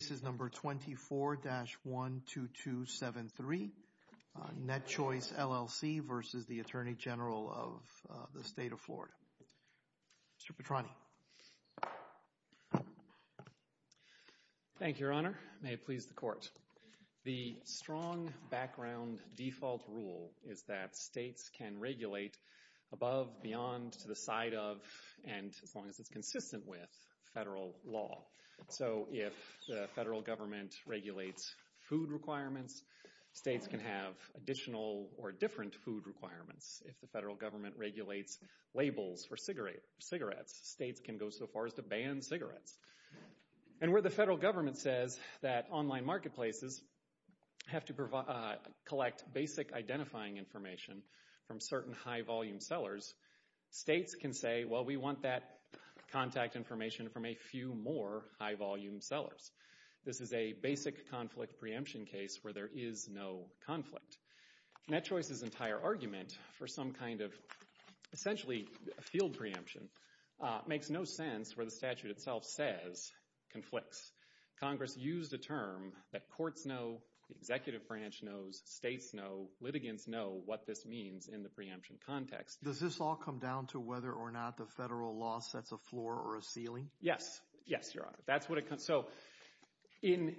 This is number 24-12273, Netchoice LLC versus the Attorney General of the State of Florida. Mr. Petroni. Thank you, Your Honor. May it please the Court. The strong background default rule is that states can regulate above, beyond, to the side of, and as long as it's consistent with, federal law. So if the federal government regulates food requirements, states can have additional or different food requirements. If the federal government regulates labels for cigarettes, states can go so far as to ban cigarettes. And where the federal government says that online marketplaces have to collect basic identifying information from certain high-volume sellers, states can say, well, we want that contact information from a few more high-volume sellers. This is a basic conflict preemption case where there is no conflict. Netchoice's entire argument for some kind of essentially field preemption makes no sense where the statute itself says conflicts. Congress used a term that courts know, the executive branch knows, states know, litigants know what this means in the preemption context. Does this all come down to whether or not the federal law sets a floor or a ceiling? Yes. Yes, Your Honor. That's what it comes – so in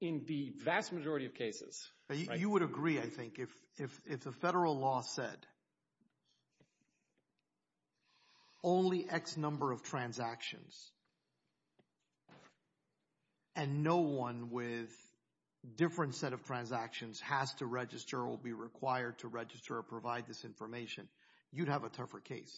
the vast majority of cases – and no one with a different set of transactions has to register or will be required to register or provide this information, you'd have a tougher case.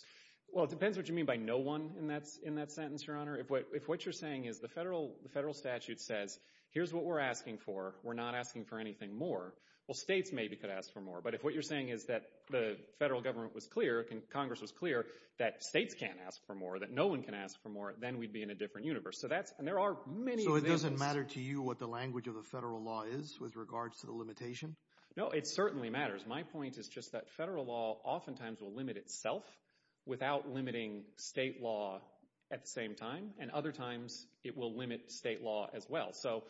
Well, it depends what you mean by no one in that sentence, Your Honor. If what you're saying is the federal statute says, here's what we're asking for, we're not asking for anything more, well, states maybe could ask for more. But if what you're saying is that the federal government was clear, Congress was clear, that states can't ask for more, that no one can ask for more, then we'd be in a different universe. So that's – and there are many of these – So it doesn't matter to you what the language of the federal law is with regards to the limitation? No, it certainly matters. My point is just that federal law oftentimes will limit itself without limiting state law at the same time. And other times it will limit state law as well. So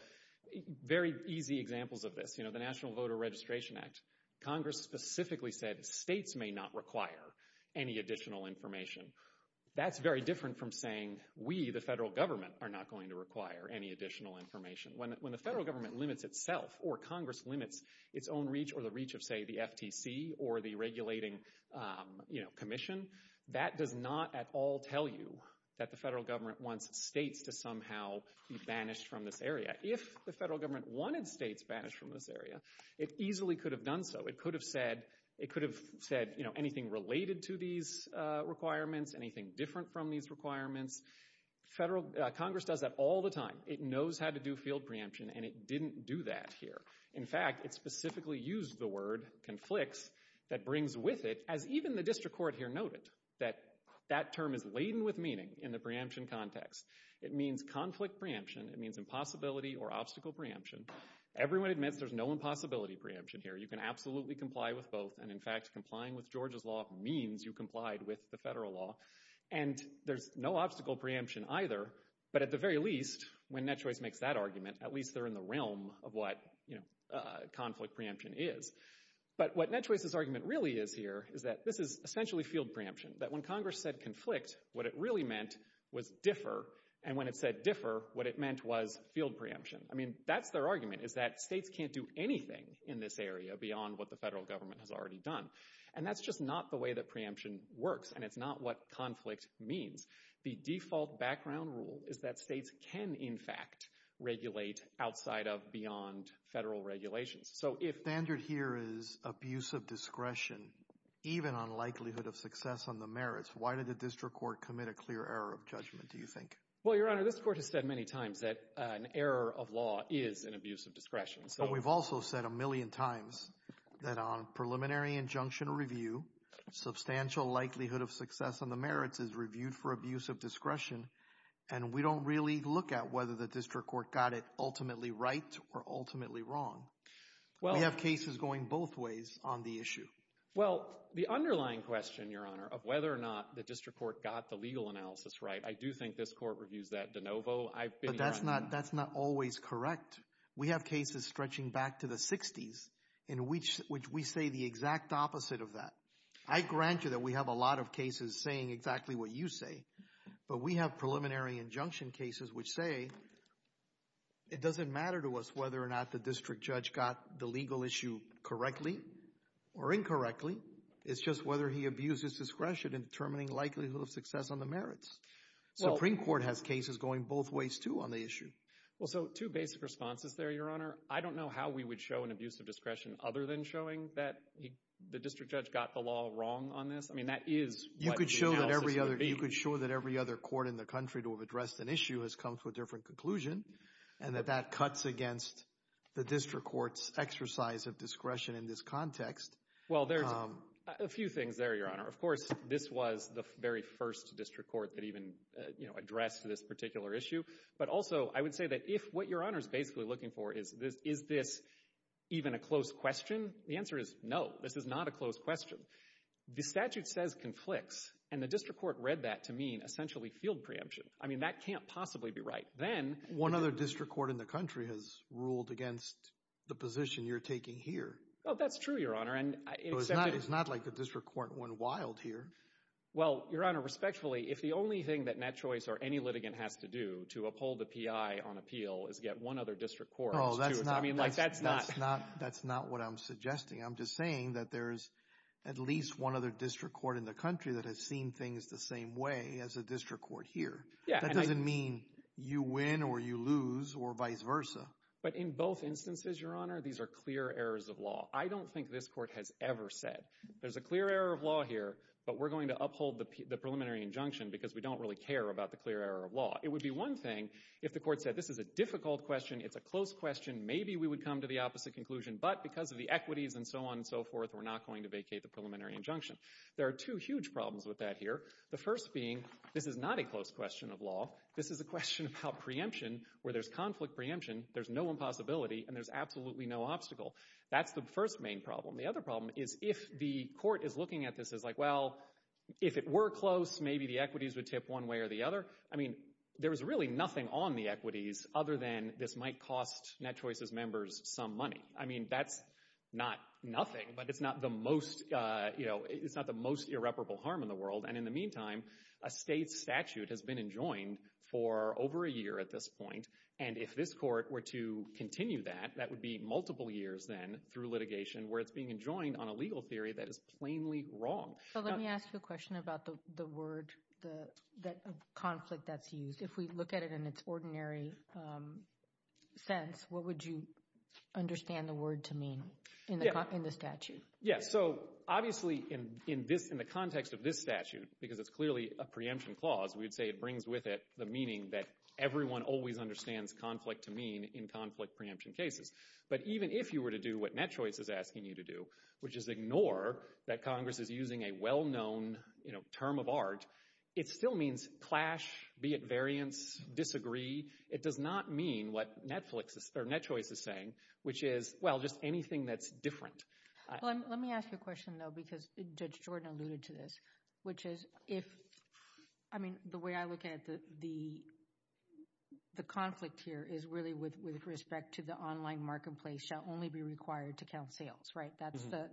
very easy examples of this, you know, the National Voter Registration Act, Congress specifically said states may not require any additional information. That's very different from saying we, the federal government, are not going to require any additional information. When the federal government limits itself or Congress limits its own reach or the reach of, say, the FTC or the regulating commission, that does not at all tell you that the federal government wants states to somehow be banished from this area. If the federal government wanted states banished from this area, it easily could have done so. It could have said, you know, anything related to these requirements, anything different from these requirements. Congress does that all the time. It knows how to do field preemption, and it didn't do that here. In fact, it specifically used the word conflicts that brings with it, as even the district court here noted, that that term is laden with meaning in the preemption context. It means conflict preemption. It means impossibility or obstacle preemption. Everyone admits there's no impossibility preemption here. You can absolutely comply with both. And, in fact, complying with Georgia's law means you complied with the federal law. And there's no obstacle preemption either. But at the very least, when NetChoice makes that argument, at least they're in the realm of what, you know, conflict preemption is. But what NetChoice's argument really is here is that this is essentially field preemption, that when Congress said conflict, what it really meant was differ. And when it said differ, what it meant was field preemption. I mean, that's their argument is that states can't do anything in this area beyond what the federal government has already done. And that's just not the way that preemption works, and it's not what conflict means. The default background rule is that states can, in fact, regulate outside of beyond federal regulations. So if standard here is abuse of discretion, even on likelihood of success on the merits, why did the district court commit a clear error of judgment, do you think? Well, Your Honor, this court has said many times that an error of law is an abuse of discretion. But we've also said a million times that on preliminary injunction review, substantial likelihood of success on the merits is reviewed for abuse of discretion, and we don't really look at whether the district court got it ultimately right or ultimately wrong. We have cases going both ways on the issue. Well, the underlying question, Your Honor, of whether or not the district court got the legal analysis right, I do think this court reviews that de novo. But that's not always correct. We have cases stretching back to the 60s in which we say the exact opposite of that. I grant you that we have a lot of cases saying exactly what you say, but we have preliminary injunction cases which say it doesn't matter to us whether or not the district judge got the legal issue correctly or incorrectly. It's just whether he abused his discretion in determining likelihood of success on the merits. The Supreme Court has cases going both ways too on the issue. Well, so two basic responses there, Your Honor. I don't know how we would show an abuse of discretion other than showing that the district judge got the law wrong on this. I mean that is what the analysis would be. You could show that every other court in the country to have addressed an issue has come to a different conclusion and that that cuts against the district court's exercise of discretion in this context. Well, there's a few things there, Your Honor. Of course, this was the very first district court that even addressed this particular issue. But also I would say that if what Your Honor is basically looking for is this even a close question, the answer is no, this is not a close question. The statute says conflicts, and the district court read that to mean essentially field preemption. I mean that can't possibly be right. One other district court in the country has ruled against the position you're taking here. Oh, that's true, Your Honor. It's not like the district court went wild here. Well, Your Honor, respectfully, if the only thing that Nat Choice or any litigant has to do to uphold the P.I. on appeal is get one other district court, I mean like that's not. That's not what I'm suggesting. I'm just saying that there's at least one other district court in the country that has seen things the same way as a district court here. That doesn't mean you win or you lose or vice versa. But in both instances, Your Honor, these are clear errors of law. I don't think this court has ever said there's a clear error of law here, but we're going to uphold the preliminary injunction because we don't really care about the clear error of law. It would be one thing if the court said this is a difficult question, it's a close question, maybe we would come to the opposite conclusion, but because of the equities and so on and so forth, we're not going to vacate the preliminary injunction. There are two huge problems with that here. The first being this is not a close question of law. This is a question about preemption where there's conflict preemption, there's no impossibility, and there's absolutely no obstacle. That's the first main problem. The other problem is if the court is looking at this as like, well, if it were close, maybe the equities would tip one way or the other. I mean there's really nothing on the equities other than this might cost Net Choices members some money. I mean that's not nothing, but it's not the most irreparable harm in the world. And in the meantime, a state statute has been enjoined for over a year at this point, and if this court were to continue that, that would be multiple years then through litigation where it's being enjoined on a legal theory that is plainly wrong. So let me ask you a question about the word conflict that's used. If we look at it in its ordinary sense, what would you understand the word to mean in the statute? Yeah, so obviously in the context of this statute, because it's clearly a preemption clause, we'd say it brings with it the meaning that everyone always understands conflict to mean in conflict preemption cases. But even if you were to do what Net Choice is asking you to do, which is ignore that Congress is using a well-known term of art, it still means clash, be it variance, disagree. It does not mean what Net Choice is saying, which is, well, just anything that's different. Let me ask you a question, though, because Judge Jordan alluded to this, which is if, I mean, the way I look at the conflict here is really with respect to the online marketplace shall only be required to count sales, right?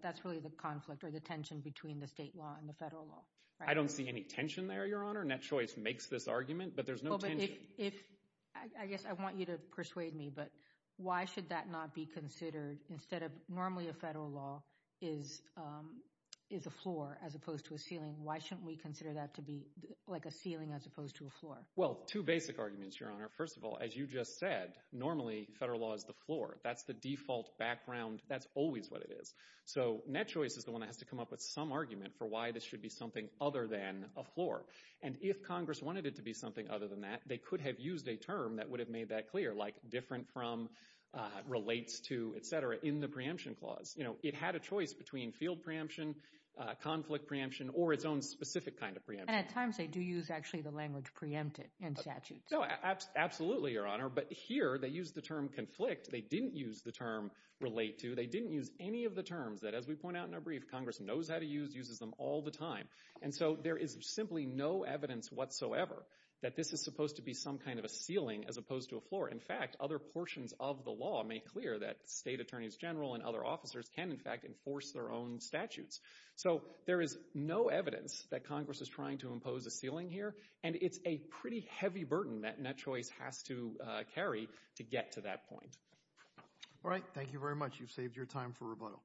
That's really the conflict or the tension between the state law and the federal law. I don't see any tension there, Your Honor. Net Choice makes this argument, but there's no tension. I guess I want you to persuade me, but why should that not be considered instead of, normally a federal law is a floor as opposed to a ceiling. Why shouldn't we consider that to be like a ceiling as opposed to a floor? Well, two basic arguments, Your Honor. First of all, as you just said, normally federal law is the floor. That's the default background. That's always what it is. So Net Choice is the one that has to come up with some argument for why this should be something other than a floor. And if Congress wanted it to be something other than that, they could have used a term that would have made that clear, like different from, relates to, et cetera, in the preemption clause. You know, it had a choice between field preemption, conflict preemption, or its own specific kind of preemption. And at times they do use, actually, the language preempted in statutes. Absolutely, Your Honor, but here they used the term conflict. They didn't use the term relate to. They didn't use any of the terms that, as we point out in our brief, Congress knows how to use, uses them all the time. And so there is simply no evidence whatsoever that this is supposed to be some kind of a ceiling as opposed to a floor. In fact, other portions of the law make clear that state attorneys general and other officers can, in fact, enforce their own statutes. So there is no evidence that Congress is trying to impose a ceiling here, and it's a pretty heavy burden that Net Choice has to carry to get to that point. All right. Thank you very much. You've saved your time for rebuttal.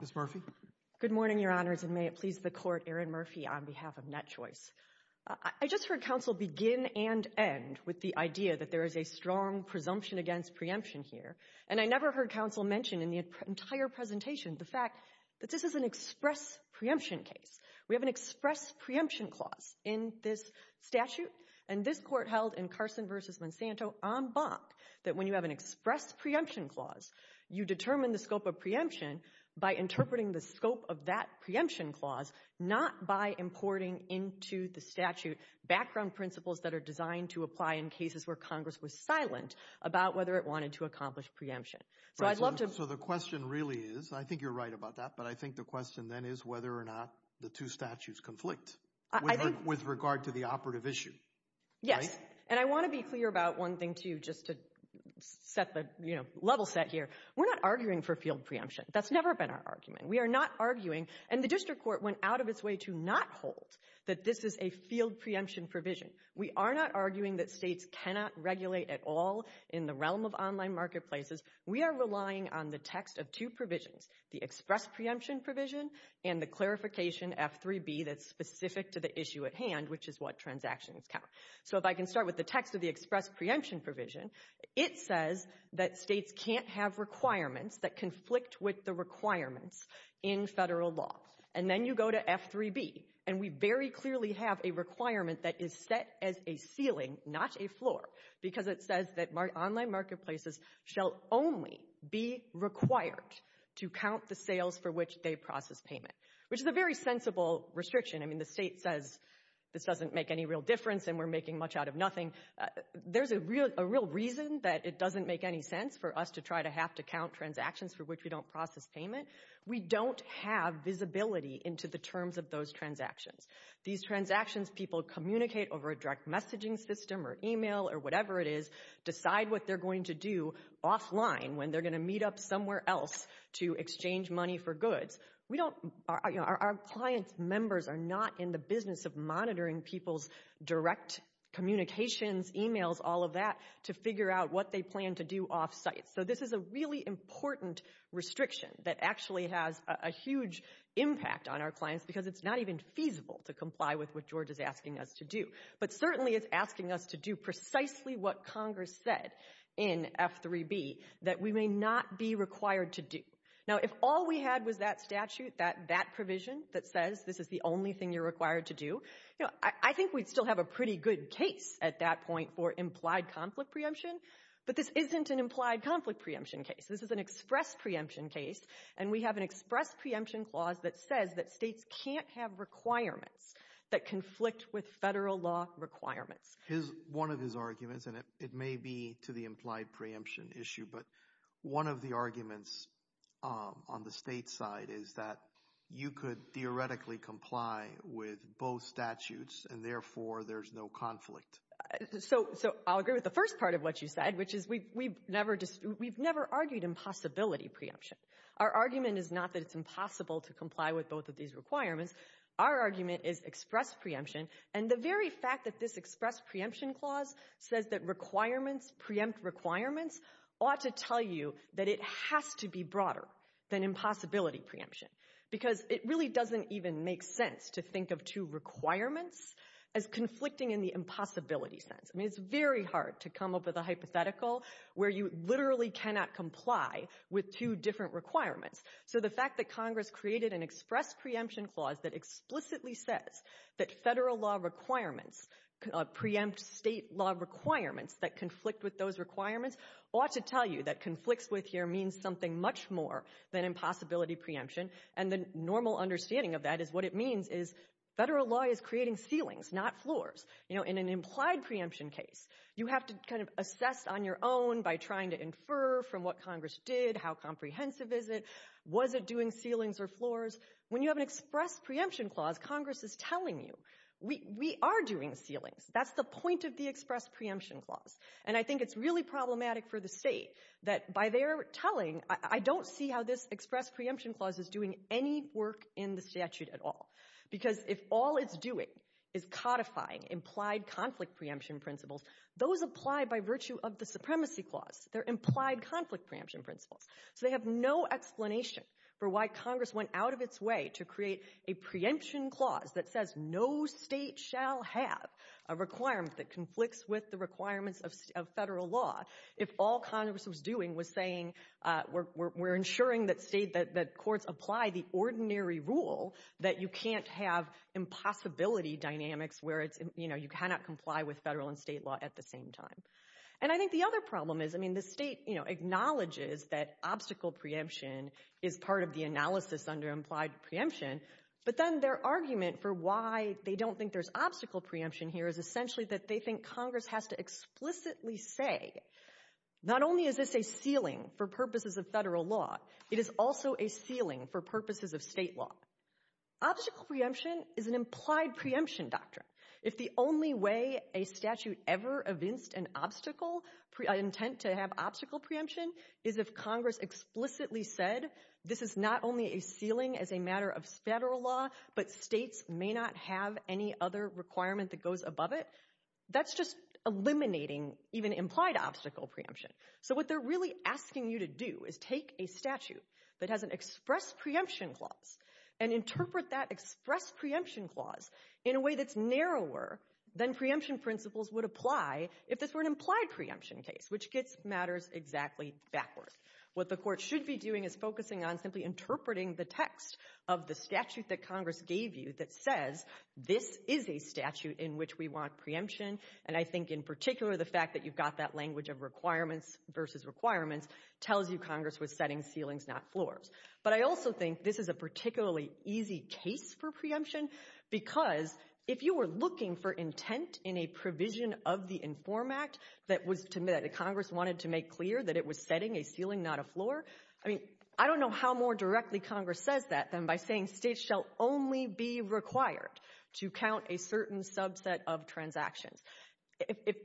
Ms. Murphy. Good morning, Your Honors, and may it please the Court, Aaron Murphy on behalf of Net Choice. I just heard counsel begin and end with the idea that there is a strong presumption against preemption here, and I never heard counsel mention in the entire presentation the fact that this is an express preemption case. We have an express preemption clause in this statute, and this Court held in Carson v. Monsanto en banc that when you have an express preemption clause, you determine the scope of preemption by interpreting the scope of that preemption clause, not by importing into the statute background principles that are designed to apply in cases where Congress was silent about whether it wanted to accomplish preemption. So I'd love to— I think— With regard to the operative issue, right? Yes, and I want to be clear about one thing, too, just to set the level set here. We're not arguing for field preemption. That's never been our argument. We are not arguing, and the district court went out of its way to not hold that this is a field preemption provision. We are not arguing that states cannot regulate at all in the realm of online marketplaces. We are relying on the text of two provisions, the express preemption provision and the clarification F3B that's specific to the issue at hand, which is what transactions count. So if I can start with the text of the express preemption provision, it says that states can't have requirements that conflict with the requirements in federal law. And then you go to F3B, and we very clearly have a requirement that is set as a ceiling, not a floor, because it says that online marketplaces shall only be required to count the sales for which they process payment, which is a very sensible restriction. I mean, the state says this doesn't make any real difference and we're making much out of nothing. There's a real reason that it doesn't make any sense for us to try to have to count transactions for which we don't process payment. We don't have visibility into the terms of those transactions. These transactions, people communicate over a direct messaging system or email or whatever it is, decide what they're going to do offline when they're going to meet up somewhere else to exchange money for goods. Our client members are not in the business of monitoring people's direct communications, emails, all of that, to figure out what they plan to do off-site. So this is a really important restriction that actually has a huge impact on our clients because it's not even feasible to comply with what George is asking us to do. But certainly it's asking us to do precisely what Congress said in F3B, that we may not be required to do. Now, if all we had was that statute, that provision that says this is the only thing you're required to do, I think we'd still have a pretty good case at that point for implied conflict preemption. But this isn't an implied conflict preemption case. This is an express preemption case. And we have an express preemption clause that says that states can't have requirements that conflict with federal law requirements. One of his arguments, and it may be to the implied preemption issue, but one of the arguments on the state side is that you could theoretically comply with both statutes, and therefore there's no conflict. So I'll agree with the first part of what you said, which is we've never argued impossibility preemption. Our argument is not that it's impossible to comply with both of these requirements. Our argument is express preemption. And the very fact that this express preemption clause says that requirements preempt requirements ought to tell you that it has to be broader than impossibility preemption because it really doesn't even make sense to think of two requirements as conflicting in the impossibility sense. I mean, it's very hard to come up with a hypothetical where you literally cannot comply with two different requirements. So the fact that Congress created an express preemption clause that explicitly says that federal law requirements preempt state law requirements that conflict with those requirements ought to tell you that conflicts with here means something much more than impossibility preemption. And the normal understanding of that is what it means is federal law is creating ceilings, not floors. In an implied preemption case, you have to kind of assess on your own by trying to infer from what Congress did how comprehensive is it? Was it doing ceilings or floors? When you have an express preemption clause, Congress is telling you we are doing ceilings. That's the point of the express preemption clause. And I think it's really problematic for the state that by their telling, I don't see how this express preemption clause is doing any work in the statute at all. Because if all it's doing is codifying implied conflict preemption principles, those apply by virtue of the supremacy clause. They're implied conflict preemption principles. So they have no explanation for why Congress went out of its way to create a preemption clause that says no state shall have a requirement that conflicts with the requirements of federal law. If all Congress was doing was saying we're ensuring that courts apply the ordinary rule that you can't have impossibility dynamics where you cannot comply with federal and state law at the same time. And I think the other problem is the state acknowledges that obstacle preemption is part of the analysis under implied preemption. But then their argument for why they don't think there's obstacle preemption here is essentially that they think Congress has to explicitly say, not only is this a ceiling for purposes of federal law, it is also a ceiling for purposes of state law. Obstacle preemption is an implied preemption doctrine. If the only way a statute ever evinced an obstacle, intent to have obstacle preemption, is if Congress explicitly said this is not only a ceiling as a matter of federal law, but states may not have any other requirement that goes above it, that's just eliminating even implied obstacle preemption. So what they're really asking you to do is take a statute that has an express preemption clause and interpret that express preemption clause in a way that's narrower than preemption principles would apply if this were an implied preemption case, which gets matters exactly backwards. What the court should be doing is focusing on simply interpreting the text of the statute that Congress gave you that says this is a statute in which we want preemption. And I think, in particular, the fact that you've got that language of requirements versus requirements tells you Congress was setting ceilings, not floors. But I also think this is a particularly easy case for preemption because if you were looking for intent in a provision of the INFORM Act that Congress wanted to make clear that it was setting a ceiling, not a floor, I mean, I don't know how more directly Congress says that than by saying states shall only be required to count a certain subset of transactions.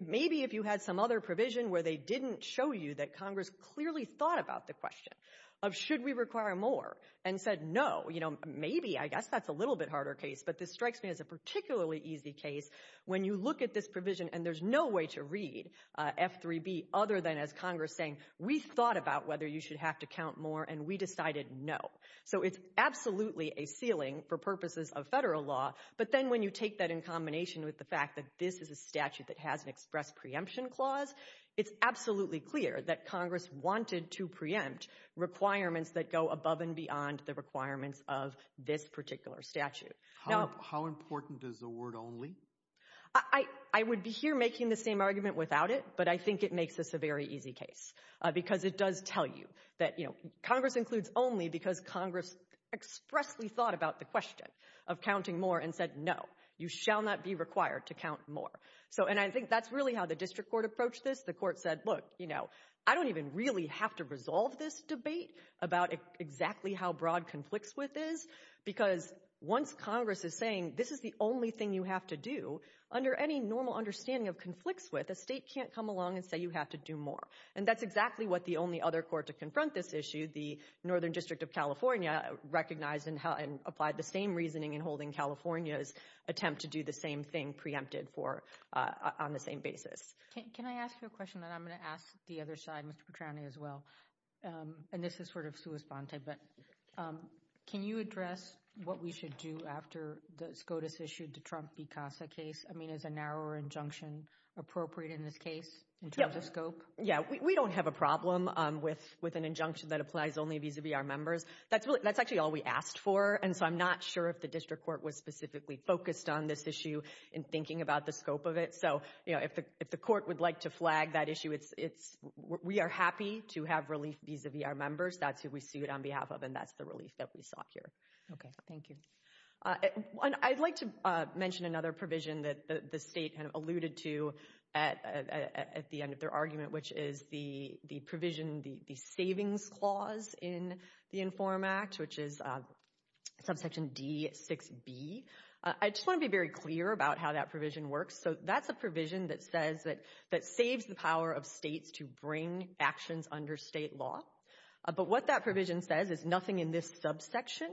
Maybe if you had some other provision where they didn't show you that Congress clearly thought about the question of should we require more and said no, maybe I guess that's a little bit harder case, but this strikes me as a particularly easy case when you look at this provision and there's no way to read F3B other than as Congress saying we thought about whether you should have to count more and we decided no. So it's absolutely a ceiling for purposes of Federal law. But then when you take that in combination with the fact that this is a statute that has an express preemption clause, it's absolutely clear that Congress wanted to preempt requirements that go above and beyond the requirements of this particular statute. How important is the word only? I would be here making the same argument without it, but I think it makes this a very easy case because it does tell you that Congress includes only because Congress expressly thought about the question of counting more and said no, you shall not be required to count more. And I think that's really how the district court approached this. The court said look, I don't even really have to resolve this debate about exactly how broad conflicts with is because once Congress is saying this is the only thing you have to do, under any normal understanding of conflicts with, a state can't come along and say you have to do more. And that's exactly what the only other court to confront this issue, the Northern District of California, recognized and applied the same reasoning in holding California's attempt to do the same thing preempted on the same basis. Can I ask you a question that I'm going to ask the other side, Mr. Petrani as well? And this is sort of sui sponte, but can you address what we should do after the SCOTUS issued the Trump v. CASA case? I mean, is a narrower injunction appropriate in this case in terms of scope? Yeah, we don't have a problem with an injunction that applies only vis-a-vis our members. That's actually all we asked for, and so I'm not sure if the district court was specifically focused on this issue in thinking about the scope of it. So if the court would like to flag that issue, we are happy to have relief vis-a-vis our members. That's who we sued on behalf of, and that's the relief that we sought here. Okay, thank you. I'd like to mention another provision that the state alluded to at the end of their argument, which is the provision, the savings clause in the INFORM Act, which is subsection D6b. I just want to be very clear about how that provision works. So that's a provision that says that saves the power of states to bring actions under state law. But what that provision says is nothing in this subsection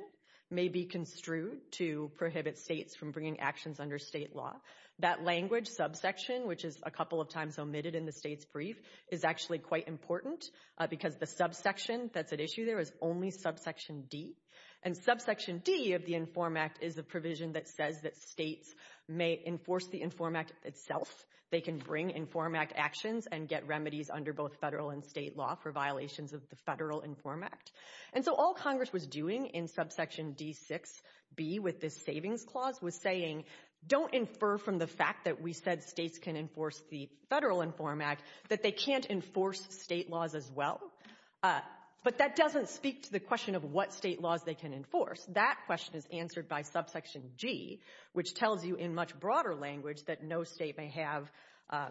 may be construed to prohibit states from bringing actions under state law. That language, subsection, which is a couple of times omitted in the state's brief, is actually quite important because the subsection that's at issue there is only subsection D, and subsection D of the INFORM Act is the provision that says that states may enforce the INFORM Act itself. They can bring INFORM Act actions and get remedies under both federal and state law for violations of the federal INFORM Act. And so all Congress was doing in subsection D6b with this savings clause was saying, don't infer from the fact that we said states can enforce the federal INFORM Act that they can't enforce state laws as well. But that doesn't speak to the question of what state laws they can enforce. That question is answered by subsection G, which tells you in much broader language that no state may have a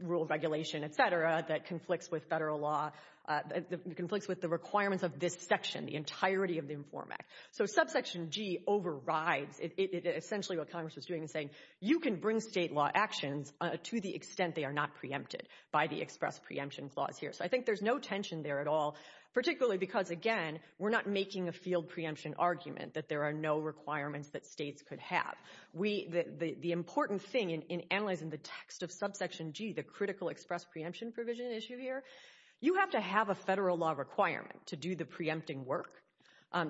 rule of regulation, etc., that conflicts with federal law, that conflicts with the requirements of this section, the entirety of the INFORM Act. So subsection G overrides essentially what Congress was doing in saying, you can bring state law actions to the extent they are not preempted by the express preemption clause here. So I think there's no tension there at all, particularly because, again, we're not making a field preemption argument that there are no requirements that states could have. The important thing in analyzing the text of subsection G, the critical express preemption provision issue here, you have to have a federal law requirement to do the preempting work.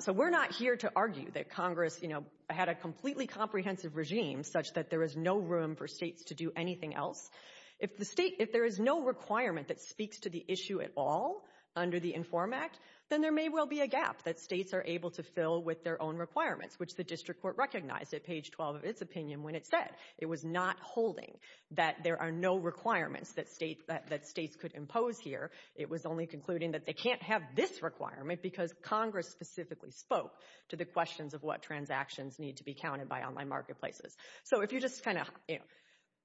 So we're not here to argue that Congress, you know, had a completely comprehensive regime such that there is no room for states to do anything else. If there is no requirement that speaks to the issue at all under the INFORM Act, then there may well be a gap that states are able to fill with their own requirements, which the district court recognized at page 12 of its opinion when it said it was not holding that there are no requirements that states could impose here. It was only concluding that they can't have this requirement because Congress specifically spoke to the questions of what transactions need to be counted by online marketplaces. So if you just kind of, you know,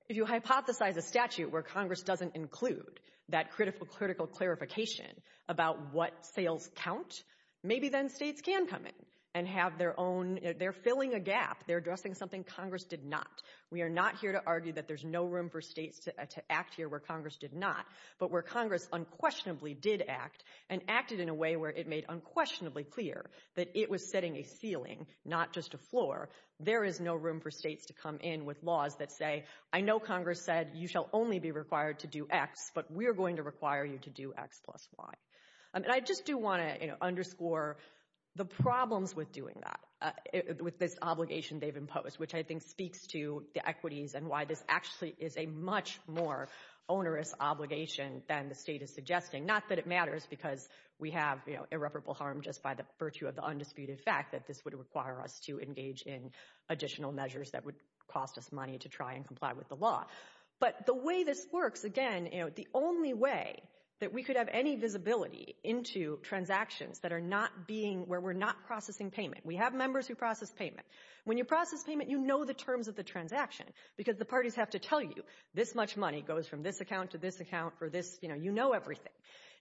if you hypothesize a statute where Congress doesn't include that critical clarification about what sales count, maybe then states can come in and have their own, they're filling a gap, they're addressing something Congress did not. We are not here to argue that there's no room for states to act here where Congress did not, but where Congress unquestionably did act and acted in a way where it made unquestionably clear that it was setting a ceiling, not just a floor. There is no room for states to come in with laws that say, I know Congress said you shall only be required to do X, but we're going to require you to do X plus Y. And I just do want to underscore the problems with doing that, with this obligation they've imposed, which I think speaks to the equities and why this actually is a much more onerous obligation than the state is suggesting, not that it matters because we have irreparable harm just by the virtue of the undisputed fact that this would require us to engage in additional measures that would cost us money to try and comply with the law. But the way this works, again, you know, the only way that we could have any visibility into transactions that are not being, where we're not processing payment. We have members who process payment. When you process payment, you know the terms of the transaction because the parties have to tell you, this much money goes from this account to this account for this, you know, you know everything.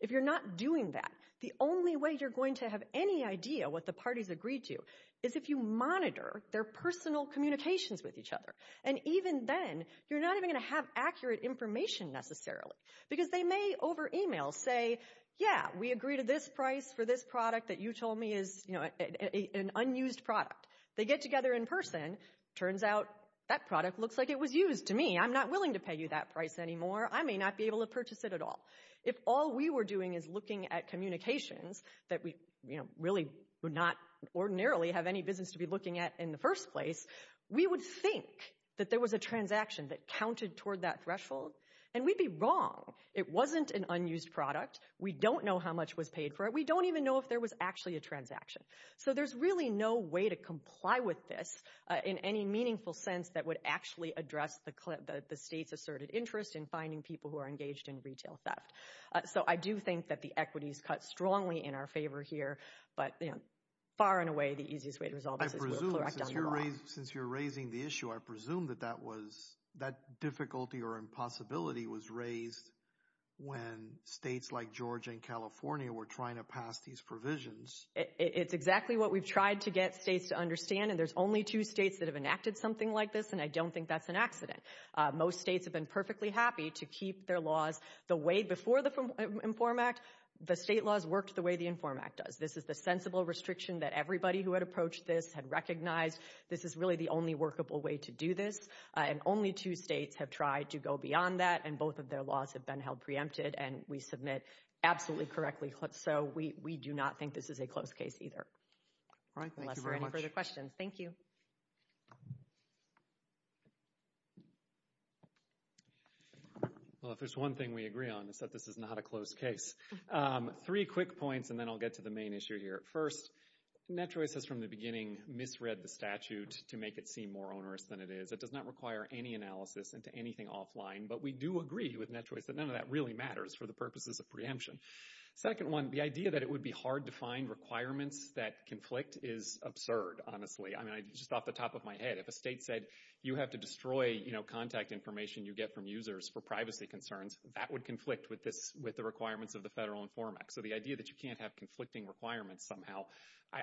If you're not doing that, the only way you're going to have any idea what the parties agreed to is if you monitor their personal communications with each other. And even then, you're not even going to have accurate information necessarily because they may over email say, yeah, we agree to this price for this product that you told me is, you know, an unused product. They get together in person, turns out that product looks like it was used to me. I'm not willing to pay you that price anymore. I may not be able to purchase it at all. If all we were doing is looking at communications that we, you know, really would not ordinarily have any business to be looking at in the first place, we would think that there was a transaction that counted toward that threshold, and we'd be wrong. It wasn't an unused product. We don't know how much was paid for it. We don't even know if there was actually a transaction. So there's really no way to comply with this in any meaningful sense that would actually address the state's asserted interest in finding people who are engaged in retail theft. So I do think that the equity is cut strongly in our favor here, but, you know, far and away the easiest way to resolve this is we'll correct it. Since you're raising the issue, I presume that that difficulty or impossibility was raised when states like Georgia and California were trying to pass these provisions. It's exactly what we've tried to get states to understand, and there's only two states that have enacted something like this, and I don't think that's an accident. Most states have been perfectly happy to keep their laws the way before the INFORM Act. The state laws worked the way the INFORM Act does. This is the sensible restriction that everybody who had approached this had recognized. This is really the only workable way to do this, and only two states have tried to go beyond that, and both of their laws have been held preempted, and we submit absolutely correctly. So we do not think this is a close case either, unless there are any further questions. Thank you. Well, if there's one thing we agree on, it's that this is not a close case. Three quick points, and then I'll get to the main issue here. First, NetChoice has from the beginning misread the statute to make it seem more onerous than it is. It does not require any analysis into anything offline, but we do agree with NetChoice that none of that really matters for the purposes of preemption. Second one, the idea that it would be hard to find requirements that conflict is absurd, honestly. I mean, just off the top of my head, if a state said, you have to destroy contact information you get from users for privacy concerns, that would conflict with the requirements of the federal INFORM Act. So the idea that you can't have conflicting requirements somehow,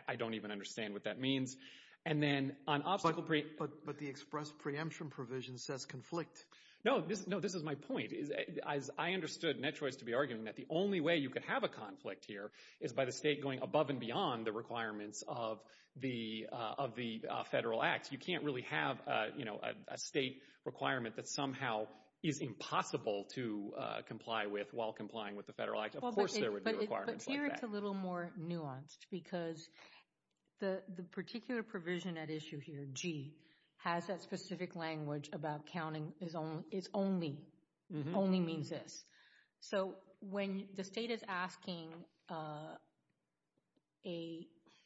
I don't even understand what that means. But the express preemption provision says conflict. No, this is my point. I understood NetChoice to be arguing that the only way you could have a conflict here is by the state going above and beyond the requirements of the federal act. You can't really have a state requirement that somehow is impossible to comply with while complying with the federal act. Of course there would be requirements like that. But here it's a little more nuanced because the particular provision at issue here, G, has that specific language about counting is only, only means this. So when the state is asking a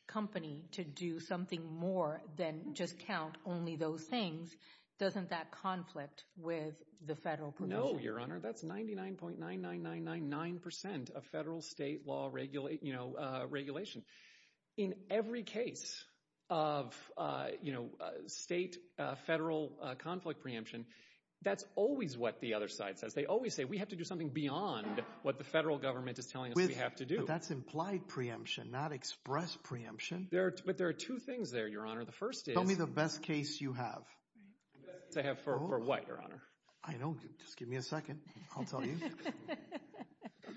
company to do something more than just count only those things, doesn't that conflict with the federal provision? No, Your Honor. That's 99.99999% of federal state law regulation. In every case of state, federal conflict preemption, that's always what the other side says. They always say we have to do something beyond what the federal government is telling us we have to do. But that's implied preemption, not express preemption. But there are two things there, Your Honor. The first is— Tell me the best case you have. The best case I have for what, Your Honor? I know. Just give me a second. I'll tell you.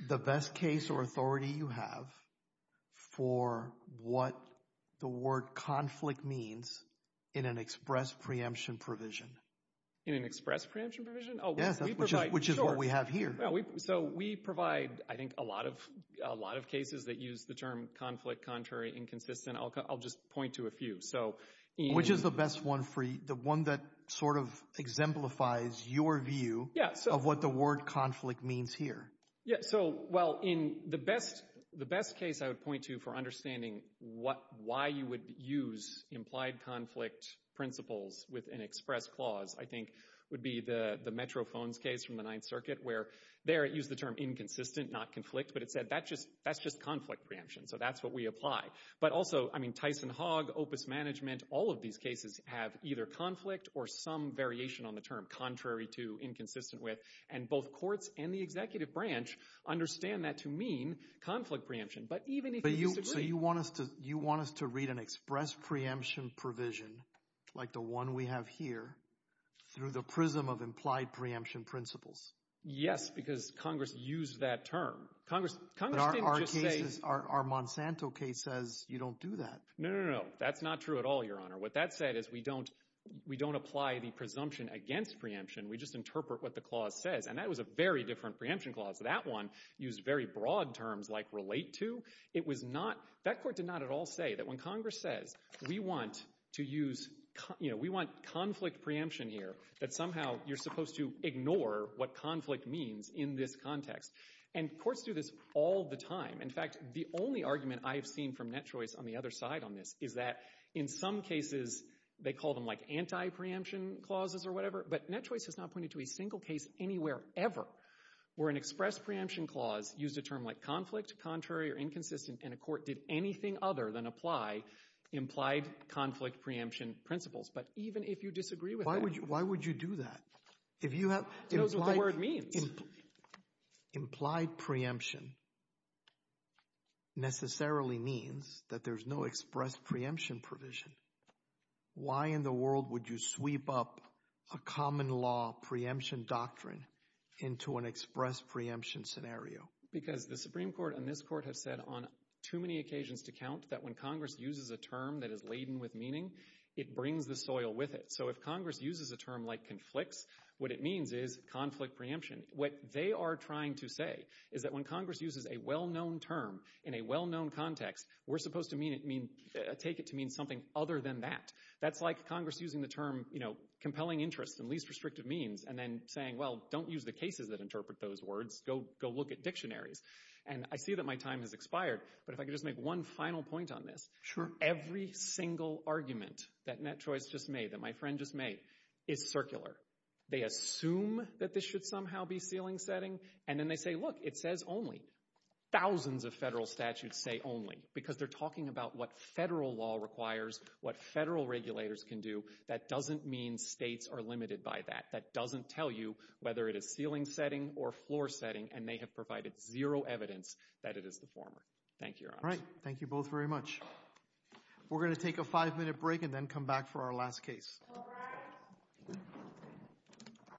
The best case or authority you have for what the word conflict means in an express preemption provision. In an express preemption provision? Yes, which is what we have here. So we provide, I think, a lot of cases that use the term conflict, contrary, inconsistent. I'll just point to a few. Which is the best one for you, the one that sort of exemplifies your view of what the word conflict means here? Well, the best case I would point to for understanding why you would use implied conflict principles with an express clause, I think, would be the Metro phones case from the Ninth Circuit, where there it used the term inconsistent, not conflict. But it said that's just conflict preemption. So that's what we apply. But also, I mean, Tyson-Hogg, Opus Management, all of these cases have either conflict or some variation on the term, contrary to, inconsistent with. And both courts and the executive branch understand that to mean conflict preemption. But even if you disagree— So you want us to read an express preemption provision, like the one we have here, through the prism of implied preemption principles? Yes, because Congress used that term. Congress didn't just say— Because our Monsanto case says you don't do that. No, no, no. That's not true at all, Your Honor. What that said is we don't apply the presumption against preemption. We just interpret what the clause says. And that was a very different preemption clause. That one used very broad terms like relate to. It was not—that court did not at all say that when Congress says, we want to use—we want conflict preemption here, that somehow you're supposed to ignore what conflict means in this context. And courts do this all the time. In fact, the only argument I have seen from Net Choice on the other side on this is that in some cases they call them like anti-preemption clauses or whatever. But Net Choice has not pointed to a single case anywhere ever where an express preemption clause used a term like conflict, contrary or inconsistent, and a court did anything other than apply implied conflict preemption principles. But even if you disagree with that— Why would you do that? If you have— It shows what the word means. Implied preemption necessarily means that there's no express preemption provision. Why in the world would you sweep up a common law preemption doctrine into an express preemption scenario? Because the Supreme Court and this Court have said on too many occasions to count that when Congress uses a term that is laden with meaning, it brings the soil with it. So if Congress uses a term like conflicts, what it means is conflict preemption. What they are trying to say is that when Congress uses a well-known term in a well-known context, we're supposed to take it to mean something other than that. That's like Congress using the term compelling interest and least restrictive means and then saying, well, don't use the cases that interpret those words. Go look at dictionaries. And I see that my time has expired, but if I could just make one final point on this. Every single argument that Net Choice just made, that my friend just made, is circular. They assume that this should somehow be ceiling setting, and then they say, look, it says only. Thousands of federal statutes say only because they're talking about what federal law requires, what federal regulators can do. That doesn't mean states are limited by that. That doesn't tell you whether it is ceiling setting or floor setting, and they have provided zero evidence that it is the former. Thank you, Your Honor. All right. Thank you both very much. We're going to take a five-minute break and then come back for our last case. All rise.